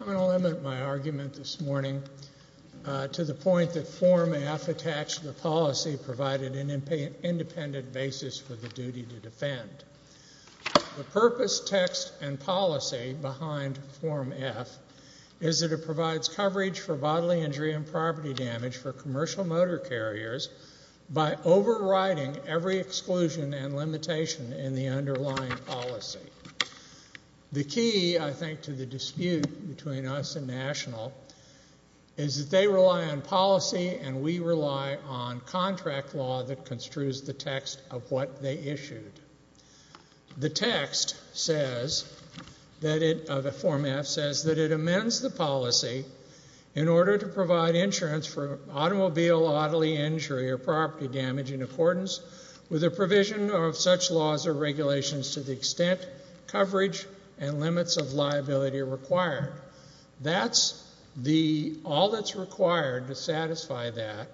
I want to limit my argument this morning to the point that Form F attached to the policy provided an independent basis for the duty to defend. The purpose, text, and policy behind Form F is that it provides coverage for bodily injury and property damage for commercial motor carriers by overriding every exclusion and limitation in the underlying policy. The key, I think, to the dispute between us and National is that they rely on policy and we rely on contract law that construes the text of what they issued. The text of Form F says that it amends the policy in order to provide insurance for automobile bodily injury or property damage in accordance with the provision of such laws or regulations to the extent coverage and limits of liability are required. That's the, all that's required to satisfy that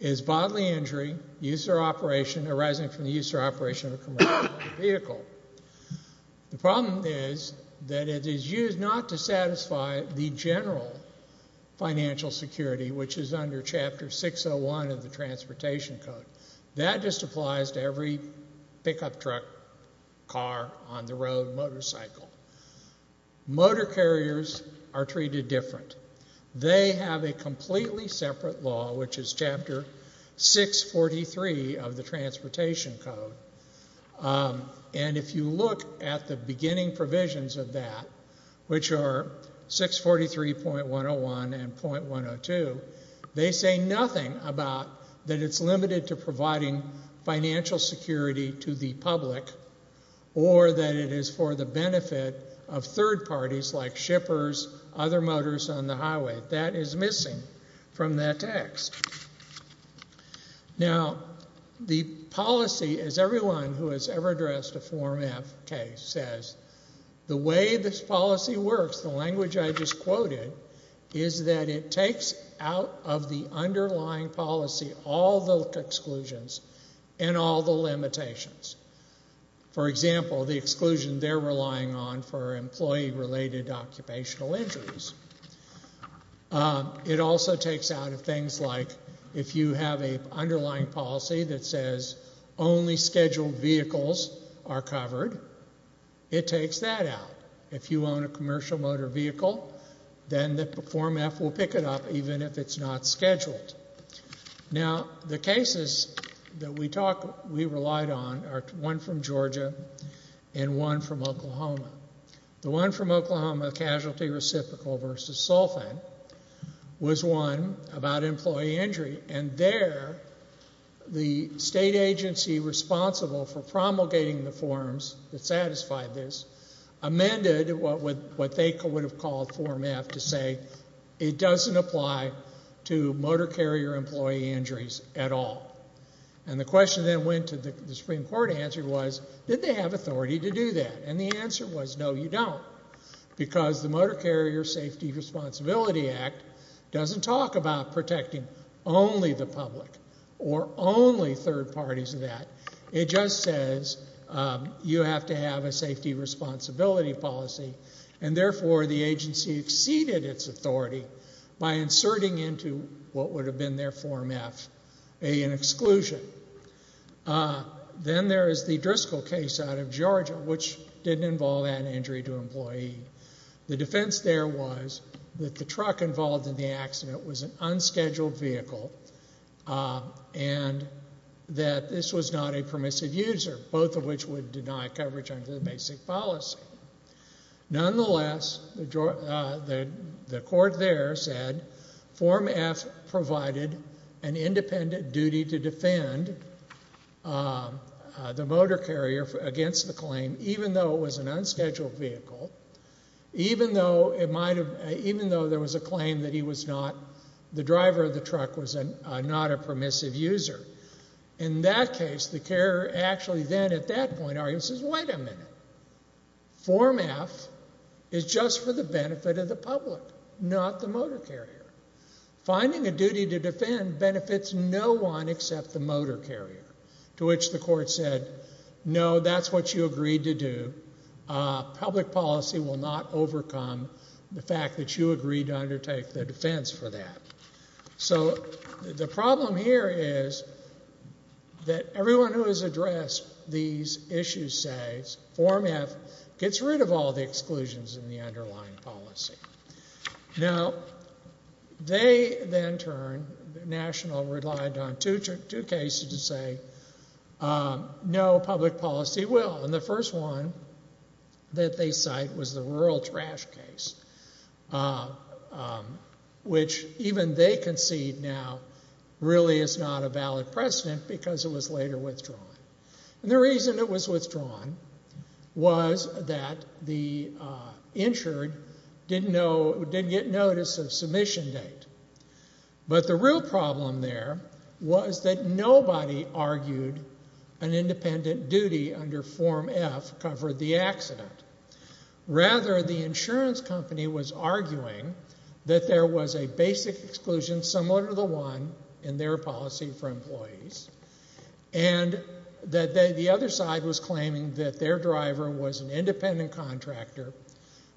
is bodily injury, use or operation arising from the use or operation of a commercial vehicle. The problem is that it is used not to satisfy the general financial security which is under Chapter 601 of the Transportation Code. That just applies to every pickup truck, car, on the road, motorcycle. Motor carriers are treated different. They have a completely separate law which is Chapter 643 of the Transportation Code. And if you look at the beginning provisions of that, which are 643.101 and .102, they say nothing about that it's limited to or that it is for the benefit of third parties like shippers, other motors on the highway. That is missing from that text. Now, the policy, as everyone who has ever addressed a Form F case says, the way this policy works, the language I just quoted, is that it takes out of the underlying policy all the exclusions and all the limitations. For example, the exclusion they're relying on for employee-related occupational injuries. It also takes out of things like if you have an underlying policy that says only scheduled vehicles are covered, it takes that out. If you own a commercial motor vehicle, then the Form F will pick it up even if it's not scheduled. Now, the cases that we relied on are one from Georgia and one from Oklahoma. The one from Oklahoma, Casualty Reciprocal v. Sulfan, was one about employee injury. And there, the state agency responsible for promulgating the forms that apply to motor carrier employee injuries at all. And the question that went to the Supreme Court answer was, did they have authority to do that? And the answer was, no, you don't. Because the Motor Carrier Safety Responsibility Act doesn't talk about protecting only the public or only third parties of that. It just says you have to have a safety responsibility policy and therefore the agency exceeded its authority by inserting into what would have been their Form F an exclusion. Then there is the Driscoll case out of Georgia which didn't involve that injury to employee. The defense there was that the truck involved in the accident was an unscheduled vehicle and that this was not a permissive user, both of which would deny coverage under the basic policy. Nonetheless, the court there said Form F provided an independent duty to defend the motor carrier against the claim even though it was an unscheduled vehicle, even though it might have, even though there was a claim that he was not, the driver of the truck was not a permissive user. In that case, the carrier actually then at that point in the argument says, wait a minute, Form F is just for the benefit of the public, not the motor carrier. Finding a duty to defend benefits no one except the motor carrier, to which the court said, no, that's what you agreed to do. Public policy will not overcome the fact that you agreed to undertake the defense for that. So the problem here is that everyone who has addressed these issues says Form F gets rid of all the exclusions in the underlying policy. Now, they then turn, National relied on two cases to say, no, public policy will. And the first one that they cite was the rural trash case, which even they concede now really is not a valid precedent because it was later withdrawn. And the reason it was withdrawn was that the insured didn't know, didn't get notice of submission date. But the real problem there was that nobody argued an independent duty under Form F covered the accident. Rather, the insurance company was arguing that there was a basic exclusion similar to the one in their policy for employees and that the other side was claiming that their driver was an independent contractor,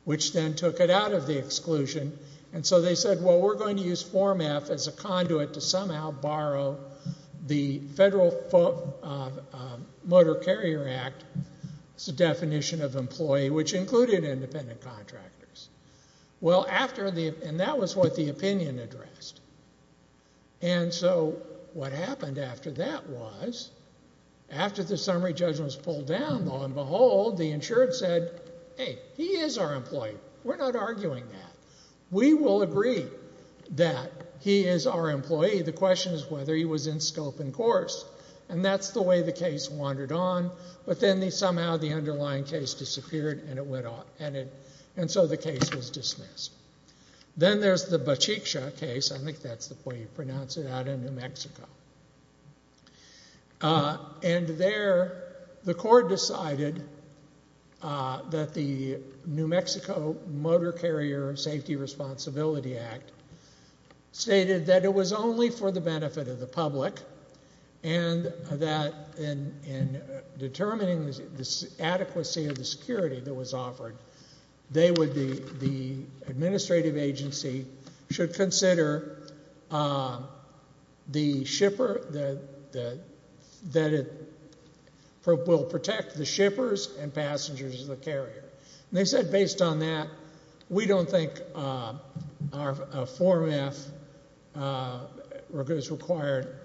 which then took it out of the exclusion. And so they said, well, we're going to use Form F as a conduit to somehow borrow the Federal Motor Carrier Act's definition of employee, which included independent contractors. Well, after the, and that was what the opinion addressed. And so what happened after that was, after the summary judgment was pulled down, lo and behold, the insurance said, hey, he is our employee. We're not arguing that. We will agree that he is our employee. The question is whether he was in scope and course. And that's the way the case wandered on. But then they the underlying case disappeared and it went off. And so the case was dismissed. Then there's the Bachiksa case. I think that's the way you pronounce it out in New Mexico. And there the court decided that the New Mexico Motor Carrier Safety Responsibility Act stated that it was only for the benefit of the public and that in determining the adequacy of the security that was offered, they would be, the administrative agency should consider the shipper, that it will protect the shippers and passengers of the carrier. And they said based on that, we don't think our, a form F is required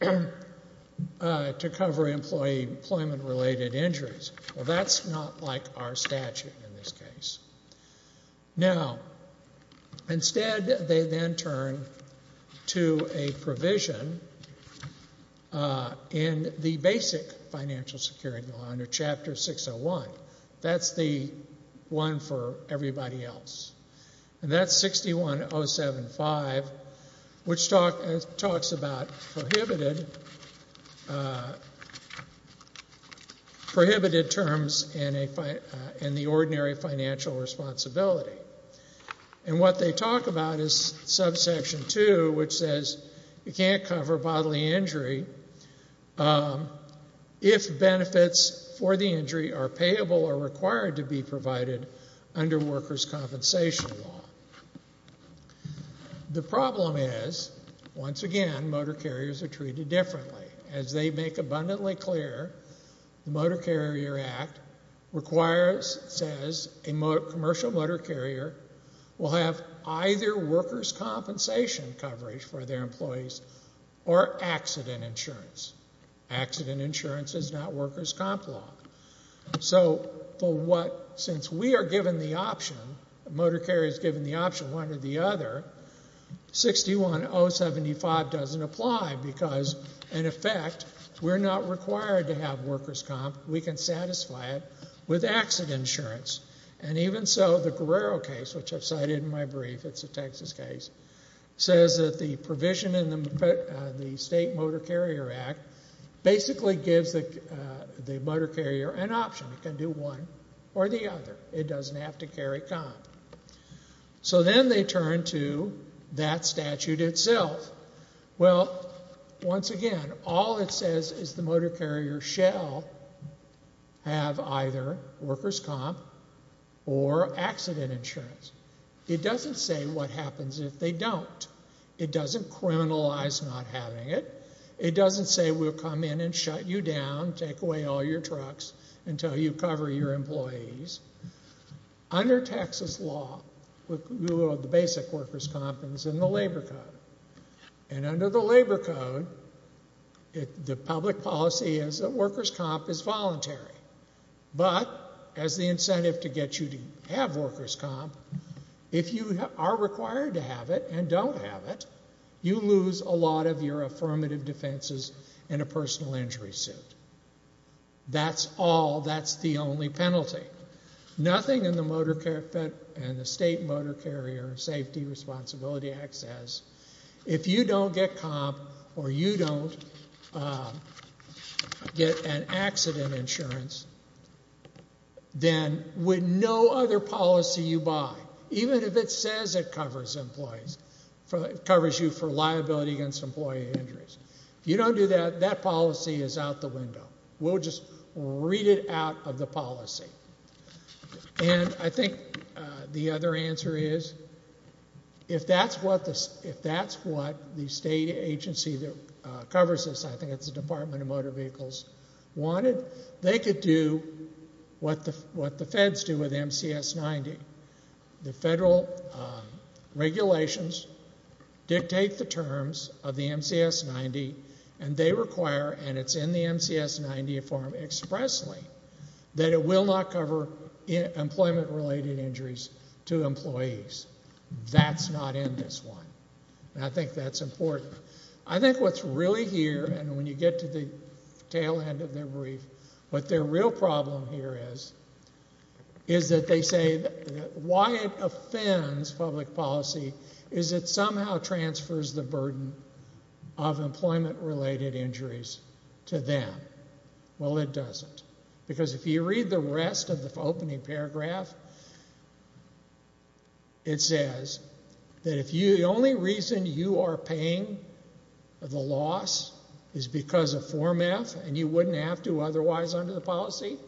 to cover employee employment related injuries. Well, that's not like our statute in this case. Now, instead, they then turn to a provision in the basic financial security law under Chapter 601. That's the one for everybody else. And that's 61075, which talks about prohibited, prohibited terms and the ordinary financial responsibility. And what they talk about is subsection 2, which says you can't cover bodily injury if benefits for the injury are payable or required to be provided under workers' compensation law. The problem is, once again, motor carriers are required, requires, says a commercial motor carrier will have either workers' compensation coverage for their employees or accident insurance. Accident insurance is not workers' comp law. So for what, since we are given the option, the motor carrier is given the option one or the other, 61075 doesn't apply because, in effect, we're not required to have workers' comp. We can satisfy it with accident insurance. And even so, the Guerrero case, which I've cited in my brief, it's a Texas case, says that the provision in the State Motor Carrier Act basically gives the motor carrier an option. It can do one or the other. It doesn't have to carry comp. So then they turn to that statute itself. Well, once again, all it says is the have either workers' comp or accident insurance. It doesn't say what happens if they don't. It doesn't criminalize not having it. It doesn't say we'll come in and shut you down, take away all your trucks until you cover your employees. Under Texas law, the basic workers' comp is in the labor code. And under the labor code, the public policy is workers' comp is voluntary. But as the incentive to get you to have workers' comp, if you are required to have it and don't have it, you lose a lot of your affirmative defenses and a personal injury suit. That's all. That's the only penalty. Nothing in the State Motor Carrier Safety Responsibility Act says if you don't get comp or you don't get an accident insurance, then with no other policy you buy, even if it says it covers employees, covers you for liability against employee injuries. If you don't do that, that policy is out the window. We'll just read it out of the policy. And I think the other answer is if that's what the state agency that covers this, I think it's the Department of Motor Vehicles, wanted, they could do what the feds do with MCS 90. The federal regulations dictate the terms of the MCS 90 and they require, and it's in the MCS 90 form expressly, that it will not cover employment-related injuries to employees. That's not in this one. And I think that's important. I think what's really here, and when you get to the tail end of the brief, what their real problem here is, is that they say that why it offends public policy is it somehow transfers the burden of employment-related injuries to them. Well, it doesn't. Because if you read the rest of the opening paragraph, it says that if the only reason you are paying the loss is because of Form F and you wouldn't have to otherwise under the policy,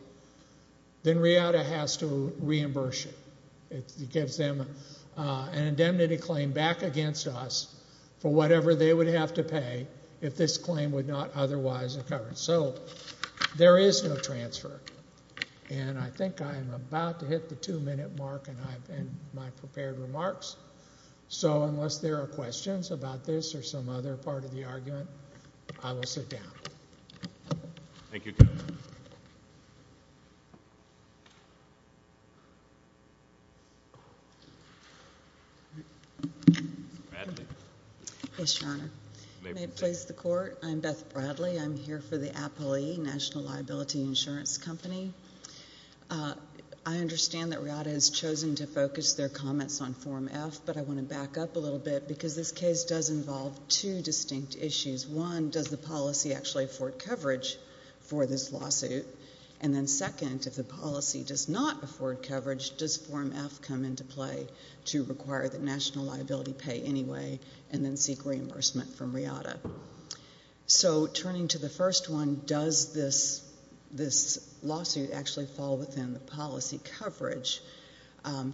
then RIADA has to reimburse you. It gives them an indemnity claim back against us for whatever they would have to pay if this were to happen. I'm about to hit the two-minute mark in my prepared remarks, so unless there are questions about this or some other part of the argument, I will sit down. Thank you, Counselor. Bradley. Yes, Your Honor. May it please the Court, I'm Beth Bradley. I'm here for the APLE, National Liability Insurance Company. I understand that RIADA has chosen to focus their comments on Form F, but I want to back up a little bit because this case does involve two distinct issues. One, does the policy actually afford coverage for this lawsuit? And then second, if the policy does not afford coverage, does Form F come into play to require that national liability pay anyway and then seek reimbursement from RIADA? So turning to the first one, does this lawsuit actually fall within the policy coverage?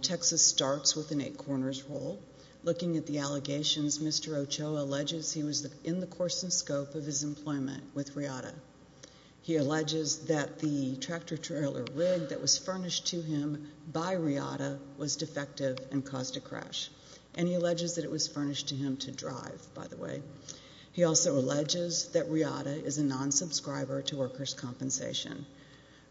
Texas starts with an eight-corners rule. Looking at the allegations, Mr. Ochoa alleges he was in the course and scope of his employment with RIADA. He alleges that the tractor-trailer rig that was furnished to him by RIADA was defective and caused a crash, and he alleges that it was furnished to him to drive, by the way. He also alleges that RIADA is a non-subscriber to workers' compensation.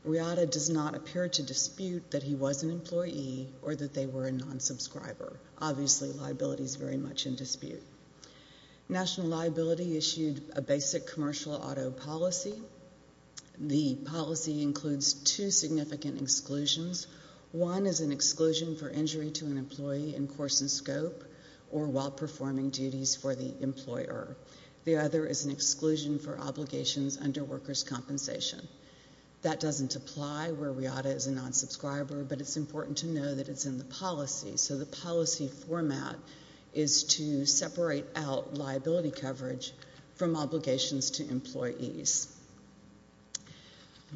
RIADA does not appear to dispute that he was an employee or that they were a non-subscriber. Obviously, liability is very much in dispute. National liability issued a basic commercial auto policy. The policy includes two significant exclusions. One is an exclusion for injury to an employee in course and scope or while performing duties for the employer. The other is an exclusion for obligations under workers' compensation. That doesn't apply where RIADA is a non-subscriber, but it's important to know that it's in the policy. So the policy format is to separate out liability coverage from obligations to employees.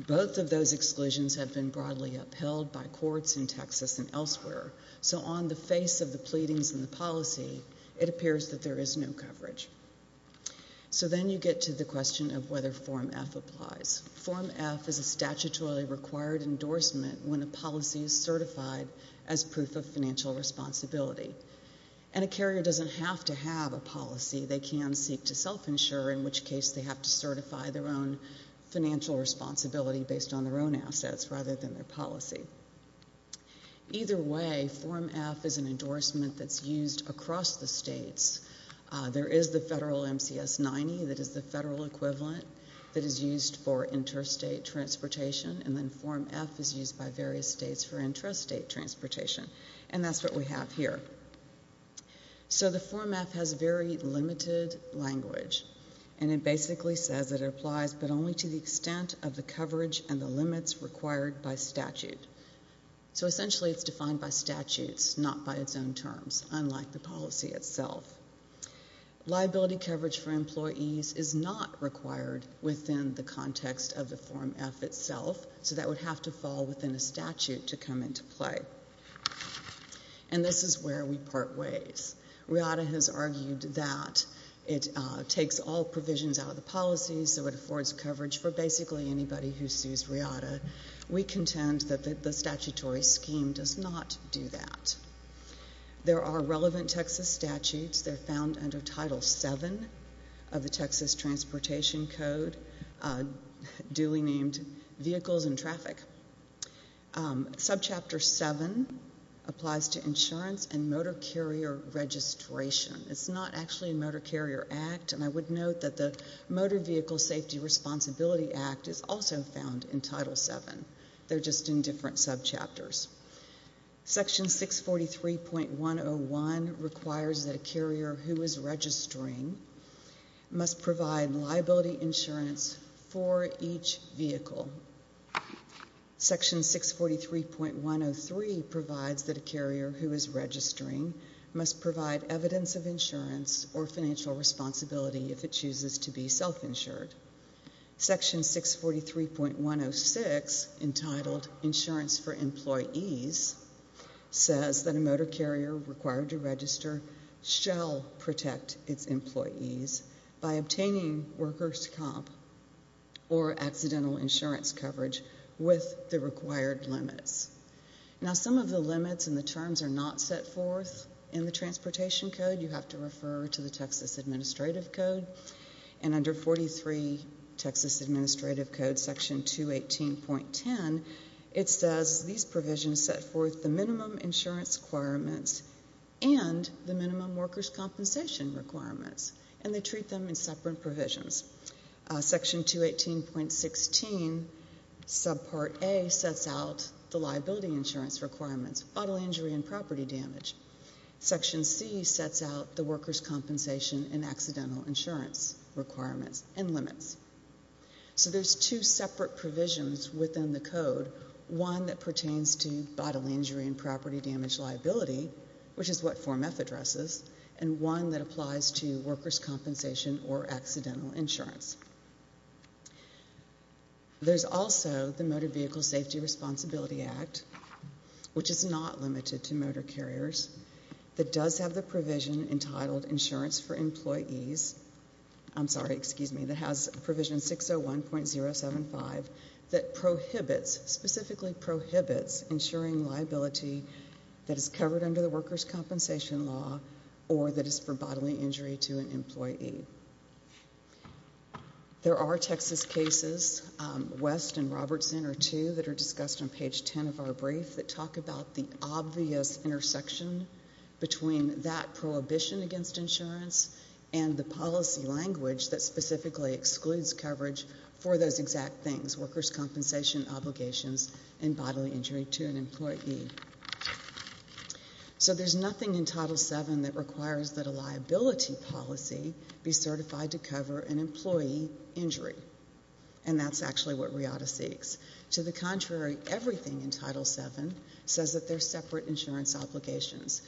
Both of those exclusions have been broadly upheld by courts in Texas and elsewhere, so on the face of the pleadings in the policy, it appears that there is no coverage. So then you get to the question of whether Form F applies. Form F is a statutorily required endorsement when a policy is certified as proof of financial responsibility, and a carrier doesn't have to have a policy. They can seek to self-insure, in which case they have to certify their own financial responsibility based on their own assets rather than their policy. Either way, Form F is an endorsement that's used across the states. There is the federal MCS-90 that is the federal equivalent that is used for interstate transportation, and then Form F is used by various states for interstate transportation, and that's what we have here. So the Form F has very limited language, and it basically says that it applies but only to the extent of the coverage and the limits required by statute. So essentially it's defined by statutes, not by its own terms, unlike the policy itself. Liability coverage for employees is not required within the context of the Form F itself, so that would have to fall within a where we part ways. RIATA has argued that it takes all provisions out of the policy so it affords coverage for basically anybody who sues RIATA. We contend that the statutory scheme does not do that. There are relevant Texas statutes. They're found under Title VII of the Texas Motor Carrier Registration. It's not actually a Motor Carrier Act, and I would note that the Motor Vehicle Safety Responsibility Act is also found in Title VII. They're just in different subchapters. Section 643.101 requires that a carrier who is registering must provide liability insurance for each vehicle. Section 643.103 provides that a carrier who is registering must provide evidence of insurance or financial responsibility if it chooses to be self-insured. Section 643.106, entitled Insurance for Employees, says that a motor carrier required to register shall protect its employees by obtaining worker's comp or accidental insurance coverage with the required limits. Now, some of the limits and the terms are not set forth in the Transportation Code. You have to refer to the Texas Administrative Code, and under 43 Texas Administrative Code, Section 218.10, it says these provisions set forth the minimum insurance requirements and the minimum worker's compensation requirements, and they treat them in separate provisions. Section 218.16, subpart A, sets out the liability insurance requirements, bodily injury and property damage. Section C sets out the worker's compensation and accidental insurance requirements and limits. So there's two separate provisions within the Code, one that pertains to bodily injury and property damage liability, which is what Form F addresses, and one that applies to worker's compensation or accidental insurance. There's also the Motor Vehicle Safety Responsibility Act, which is not limited to motor carriers, that does have the provision entitled Insurance for Employees, I'm sorry, excuse me, that has provision 601.075 that prohibits, specifically prohibits insuring liability that is covered under the worker's compensation law or that is for bodily injury to an employee. There are Texas cases, West and Robertson are two that are discussed on page 10 of our brief that talk about the obvious intersection between that prohibition against insurance and the policy language that specifically excludes coverage for those exact things, worker's compensation obligations and bodily injury to an employee. So there's nothing in Title VII that requires that a liability policy be certified to cover an employee injury, and that's actually what RIADA seeks. To the contrary, everything in Title VII says that there's separate insurance obligations.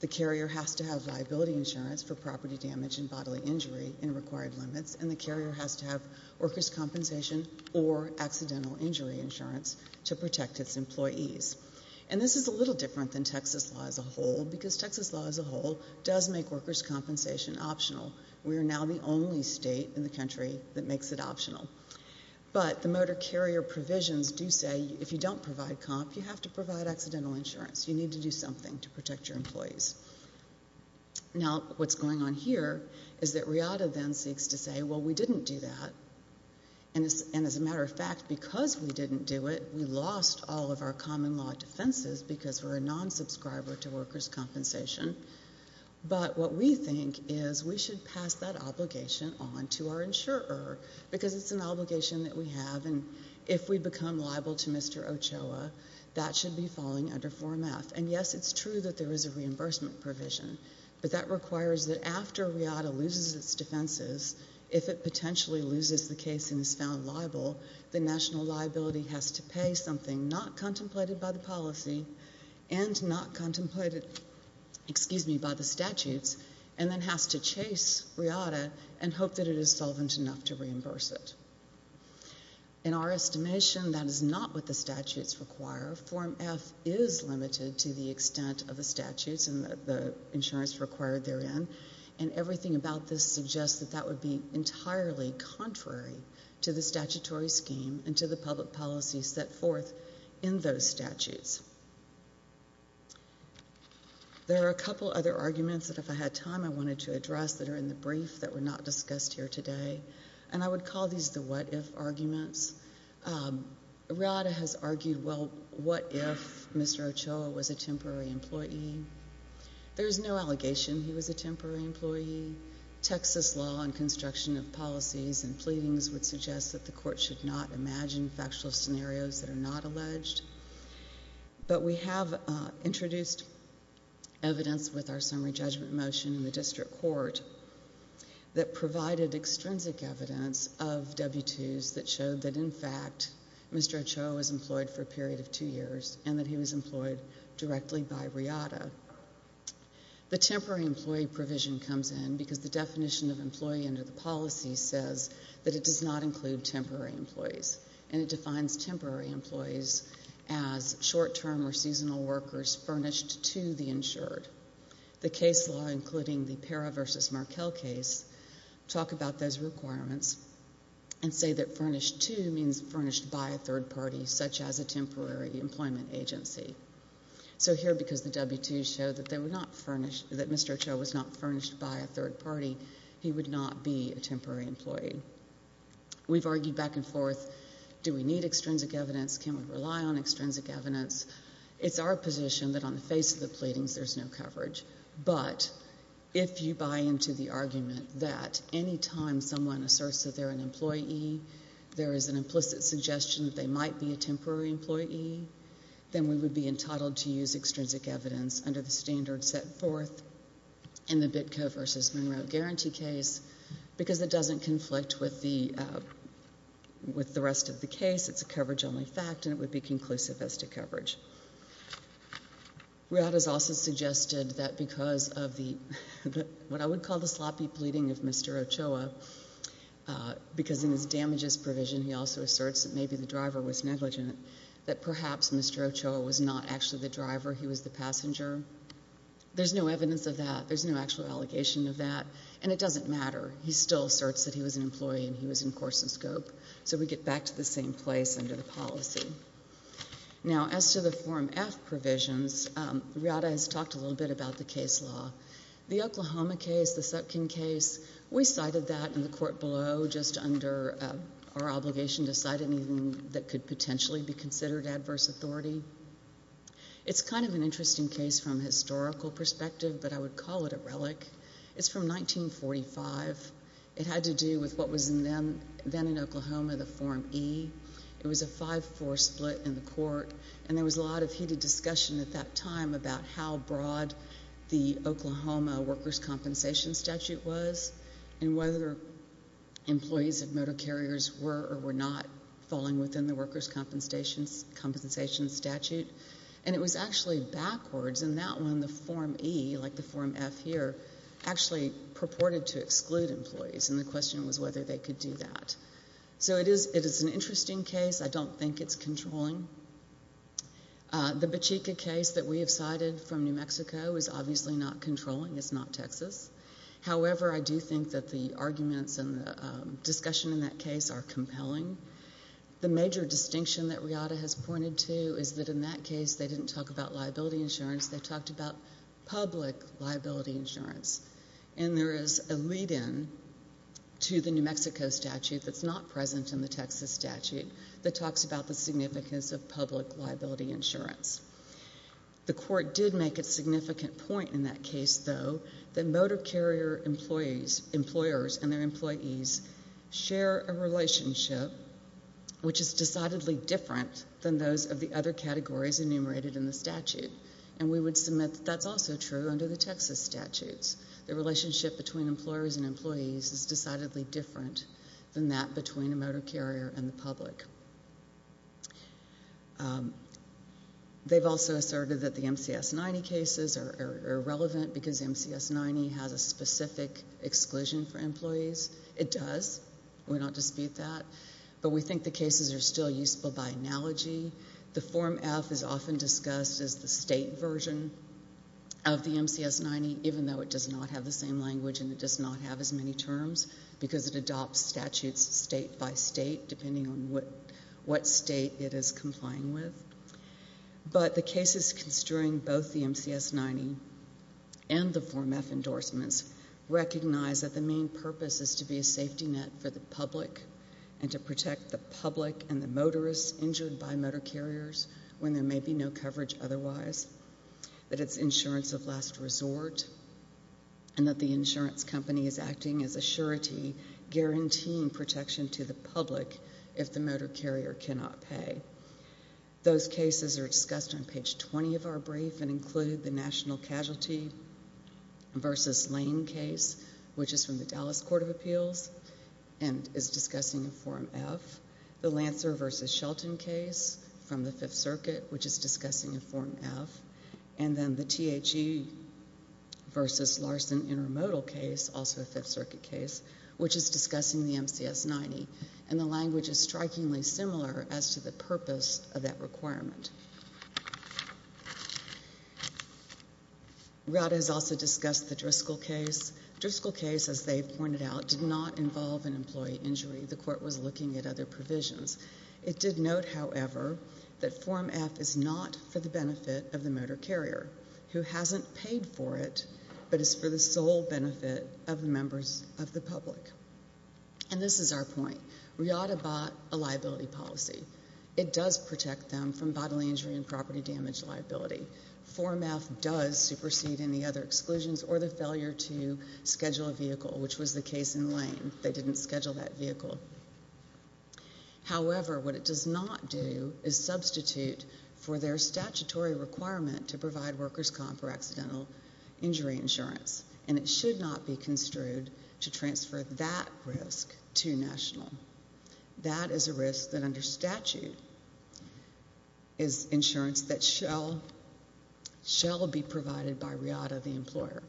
The carrier has to have liability insurance for property damage and bodily injury in required limits, and the carrier has to have worker's compensation or accidental injury insurance to protect its employees. And this is a little different than Texas law as a whole, because Texas law as a whole does make worker's compensation optional. We are now the only state in the country that makes it optional. But the motor carrier provisions do say if you don't provide comp, you have to provide accidental insurance. You need to something to protect your employees. Now, what's going on here is that RIADA then seeks to say, well, we didn't do that. And as a matter of fact, because we didn't do it, we lost all of our common law defenses because we're a non-subscriber to worker's compensation. But what we think is we should pass that obligation on to our insurer, because it's an obligation that we have, and if we become liable to Mr. Ochoa, that should be falling under Form F. And yes, it's true that there is a reimbursement provision, but that requires that after RIADA loses its defenses, if it potentially loses the case and is found liable, the national liability has to pay something not contemplated by the policy and not contemplated, excuse me, by the statutes, and then has to chase RIADA and hope that it is solvent enough to reimburse it. In our estimation, that is not what the statutes require. Form F is limited to the extent of the statutes and the insurance required therein, and everything about this suggests that that would be entirely contrary to the statutory scheme and to the public policy set forth in those statutes. There are a couple other arguments that, if I had time, I wanted to address that are in the what-if arguments. RIADA has argued, well, what if Mr. Ochoa was a temporary employee? There is no allegation he was a temporary employee. Texas law and construction of policies and pleadings would suggest that the court should not imagine factual scenarios that are not alleged, but we have introduced evidence with our summary judgment motion in the district court that provided extrinsic evidence of W-2s that showed that, in fact, Mr. Ochoa was employed for a period of two years and that he was employed directly by RIADA. The temporary employee provision comes in because the definition of employee under the policy says that it does not include temporary employees, and it defines temporary employees as short-term or seasonal employees. We have argued back and forth, do we need extrinsic evidence? Can we rely on extrinsic evidence? It is our position that on the face of the pleadings, there is no coverage, but if you buy into the argument that any time someone asserts that they're an employee, there is an implicit suggestion that they might be a temporary employee, then we would be entitled to use extrinsic evidence under the standard set forth in the Bitco versus Monroe Guarantee case because it doesn't conflict with the rest of the case. It's a coverage-only fact, and it would be conclusive as to coverage. RIADA has also suggested that because of what I would call the sloppy pleading of Mr. Ochoa, because in his damages provision, he also asserts that maybe the driver was negligent, that perhaps Mr. Ochoa was not actually the driver, he was the passenger. There's no evidence of that. There's no actual allegation of that, and it doesn't matter. He still asserts that he was an employee, and he was in course and scope, so we get back to the same place under the policy. Now, as to the Form F provisions, RIADA has talked a little bit about the case law. The Oklahoma case, the Sutkin case, we cited that in the court below just under our obligation to cite anything that could potentially be considered adverse authority. It's kind of an interesting case from a historical perspective, but I would call it a relic. It's from 1945. It had to do with what was then in Oklahoma, the Form E. It was a 5-4 split in the court, and there was a lot of heated discussion at that time about how broad the Oklahoma workers' compensation statute was and whether employees of motor carriers were or were not falling within the workers' compensation statute, and it was actually backwards. In that one, the Form E, like the Form F here, actually purported to exclude employees, and the question was whether they could do that. So it is an interesting case. I don't think it's controlling. The Bachika case that we have cited from New Mexico is obviously not controlling. It's not Texas. However, I do think that the arguments and the discussion in that case are compelling. The major distinction that RIADA has pointed to is that in that case, they didn't talk about liability insurance, and there is a lead-in to the New Mexico statute that's not present in the Texas statute that talks about the significance of public liability insurance. The court did make a significant point in that case, though, that motor carrier employers and their employees share a relationship which is decidedly different than those of the other Texas statutes. The relationship between employers and employees is decidedly different than that between a motor carrier and the public. They've also asserted that the MCS 90 cases are irrelevant because MCS 90 has a specific exclusion for employees. It does. We don't dispute that, but we think the cases are still even though it does not have the same language and it does not have as many terms because it adopts statutes state by state depending on what state it is complying with. But the cases construing both the MCS 90 and the Form F endorsements recognize that the main purpose is to be a safety net for the public and to protect the public and the motorists injured by motor carriers when there may be no coverage otherwise, that its insurance of resort and that the insurance company is acting as a surety, guaranteeing protection to the public if the motor carrier cannot pay. Those cases are discussed on page 20 of our brief and include the National Casualty v. Lane case, which is from the Dallas Court of Appeals and is discussing a Form F. The Lancer v. Shelton case from the Fifth Circuit, which is v. Larson intermodal case, also a Fifth Circuit case, which is discussing the MCS 90, and the language is strikingly similar as to the purpose of that requirement. Rada has also discussed the Driscoll case. Driscoll case, as they've pointed out, did not involve an employee injury. The court was looking at other provisions. It did note, however, that Form F is not for the benefit of the motor carrier, who hasn't paid for it, but is for the sole benefit of the members of the public. And this is our point. Rada bought a liability policy. It does protect them from bodily injury and property damage liability. Form F does supersede any other exclusions or the failure to schedule a vehicle, which was the case in Lane. They didn't schedule that vehicle. However, what it does not do is substitute for their statutory requirement to provide workers comp or accidental injury insurance, and it should not be construed to transfer that risk to national. That is a risk that under statute is insurance that shall be provided by Rada, the employer.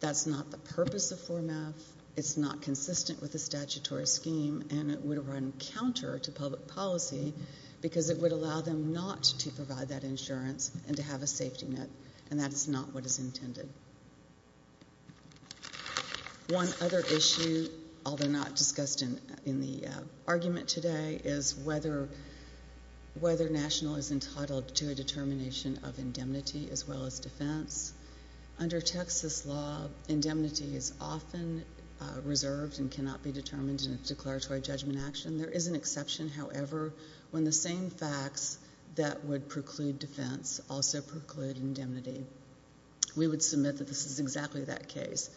That's not the purpose of Form F. It's not consistent with the statutory scheme, and it would run counter to public policy because it would allow them not to provide that insurance and to have a safety net, and that is not what is intended. One other issue, although not discussed in the argument today, is whether national is entitled to a determination of indemnity as well as defense. Under Texas law, indemnity is often reserved and cannot be determined in a declaratory judgment action. There is an exception, however, when the same facts that would preclude defense also preclude indemnity. We would submit that this is exactly that case.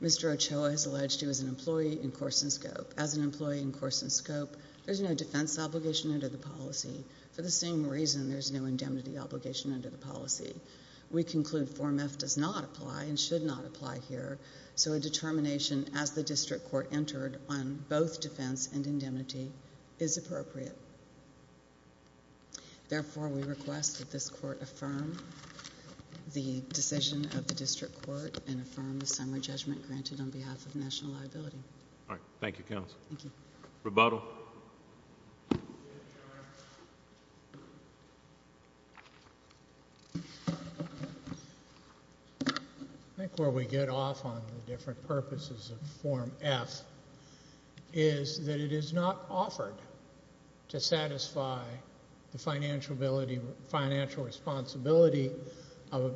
Mr. Ochoa has alleged he was an employee in Corson Scope. As an employee in Corson Scope, there's no defense obligation under the policy. For the same reason, there's no indemnity obligation under the policy. We conclude Form F does not apply and should not apply here, so a determination as the district court entered on both defense and indemnity is appropriate. Therefore, we request that this court affirm the decision of the district court and affirm the summary judgment granted on behalf of national liability. All right. Thank you, counsel. Rebuttal. I think where we get off on the different purposes of Form F is that it is not offered to satisfy the financial responsibility of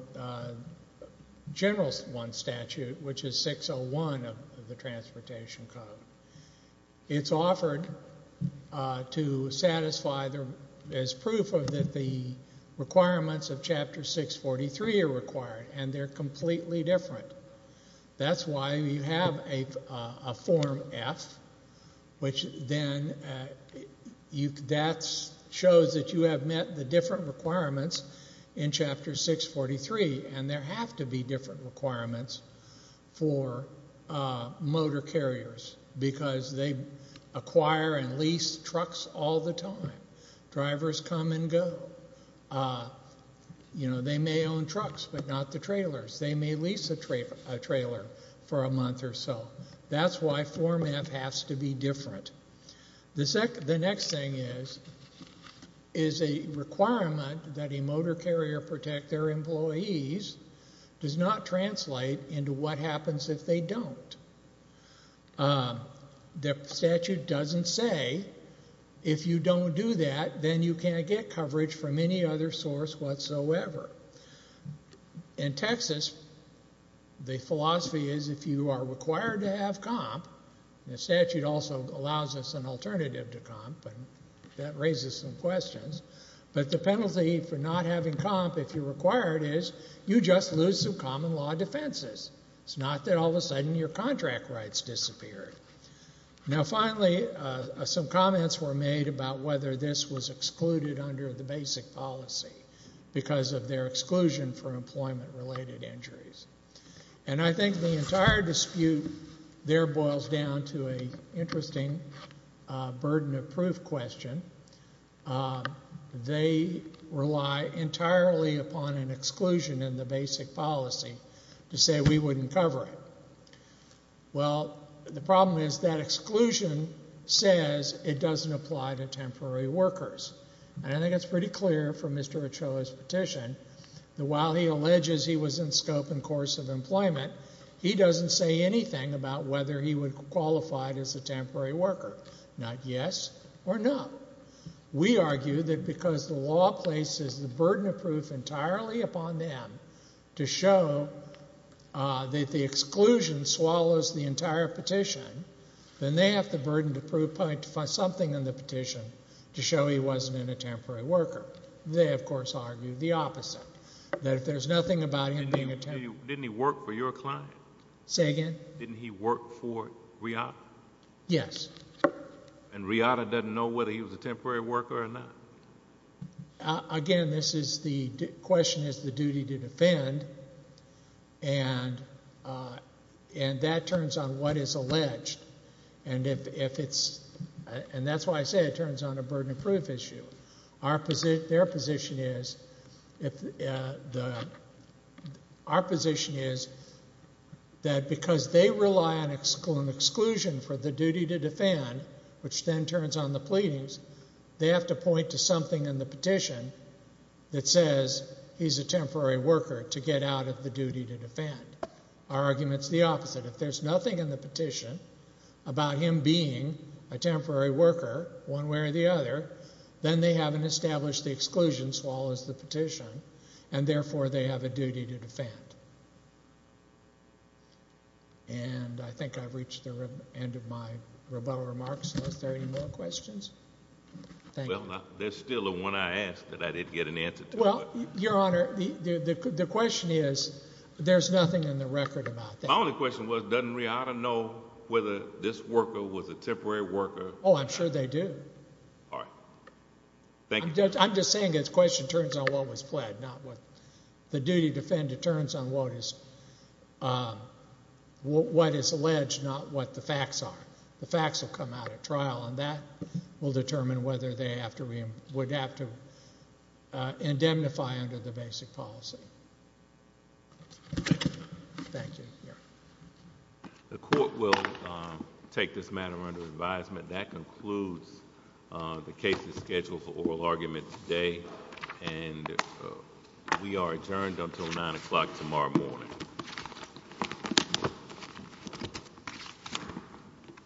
General 1 statute, which is 601 of the Transportation Code. It's offered to satisfy as proof that the requirements of Chapter 643 are required, and they're completely different. That's why you have a Form F, which then shows that you have met the different requirements in Chapter 643, and there have to be different requirements for motor carriers, because they acquire and lease trucks all the time. Drivers come and go. They may own trucks, but not the trailers. They may lease a trailer for a month or so. That's why Form F has to be different. The next thing is, is a requirement that a motor carrier protect their employees does not translate into what happens if they don't. The statute doesn't say, if you don't do that, then you can't get coverage from any other source whatsoever. In Texas, the philosophy is if you are required to have comp, and the statute also says if you are required to have comp, you just lose some common law defenses. It's not that all of a sudden your contract rights disappeared. Finally, some comments were made about whether this was excluded under the basic policy, because of their exclusion for employment-related injuries. I think the entire dispute there boils down to an interesting burden of proof question. They rely entirely upon an exclusion in the basic policy to say we wouldn't cover it. Well, the problem is that exclusion says it doesn't apply to temporary workers. I think it's pretty clear from Mr. Ochoa's petition that while he alleges he was in scope and course of employment, he doesn't say anything about whether he would qualify as a temporary worker. Not yes or no. We argue that because the law places the burden of proof entirely upon them to show that the exclusion swallows the entire petition, then they have the burden to prove something in the petition to show he wasn't in a temporary worker. They, of course, argue the opposite, that if there's nothing about him being a temporary worker. Didn't he work for your client? Say again? Didn't he work for Riata? Yes. And Riata doesn't know whether he was a temporary worker or not? Again, this is the question is the duty to defend, and that turns on what is alleged, and if it's, and that's why I say it turns on a burden of proof issue. Our position, their position is, our position is that because they rely on exclusion for the duty to defend, which then turns on the pleadings, they have to point to something in the petition that says he's a temporary worker to get out of the duty to defend. Our argument's the opposite. If there's nothing in the petition about him being a temporary worker one way or the other, then they haven't established the exclusion as well as the petition, and therefore they have a duty to defend. And I think I've reached the end of my rebuttal remarks. Are there any more questions? Well, there's still the one I asked that I didn't get an answer to. Well, Your Honor, the question is, there's nothing in the record about that. My only question was, doesn't Riata know whether this worker was a temporary worker? Oh, I'm sure they do. All right. Thank you. I'm just saying this question turns on what was pled, not what the duty to defend. It turns on what is alleged, not what the facts are. The facts will come out at trial, and that will determine whether they would have to indemnify under the basic policy. Thank you, Your Honor. The court will take this matter under advisement. That concludes the case is scheduled for oral argument today, and we are adjourned until nine o'clock tomorrow morning.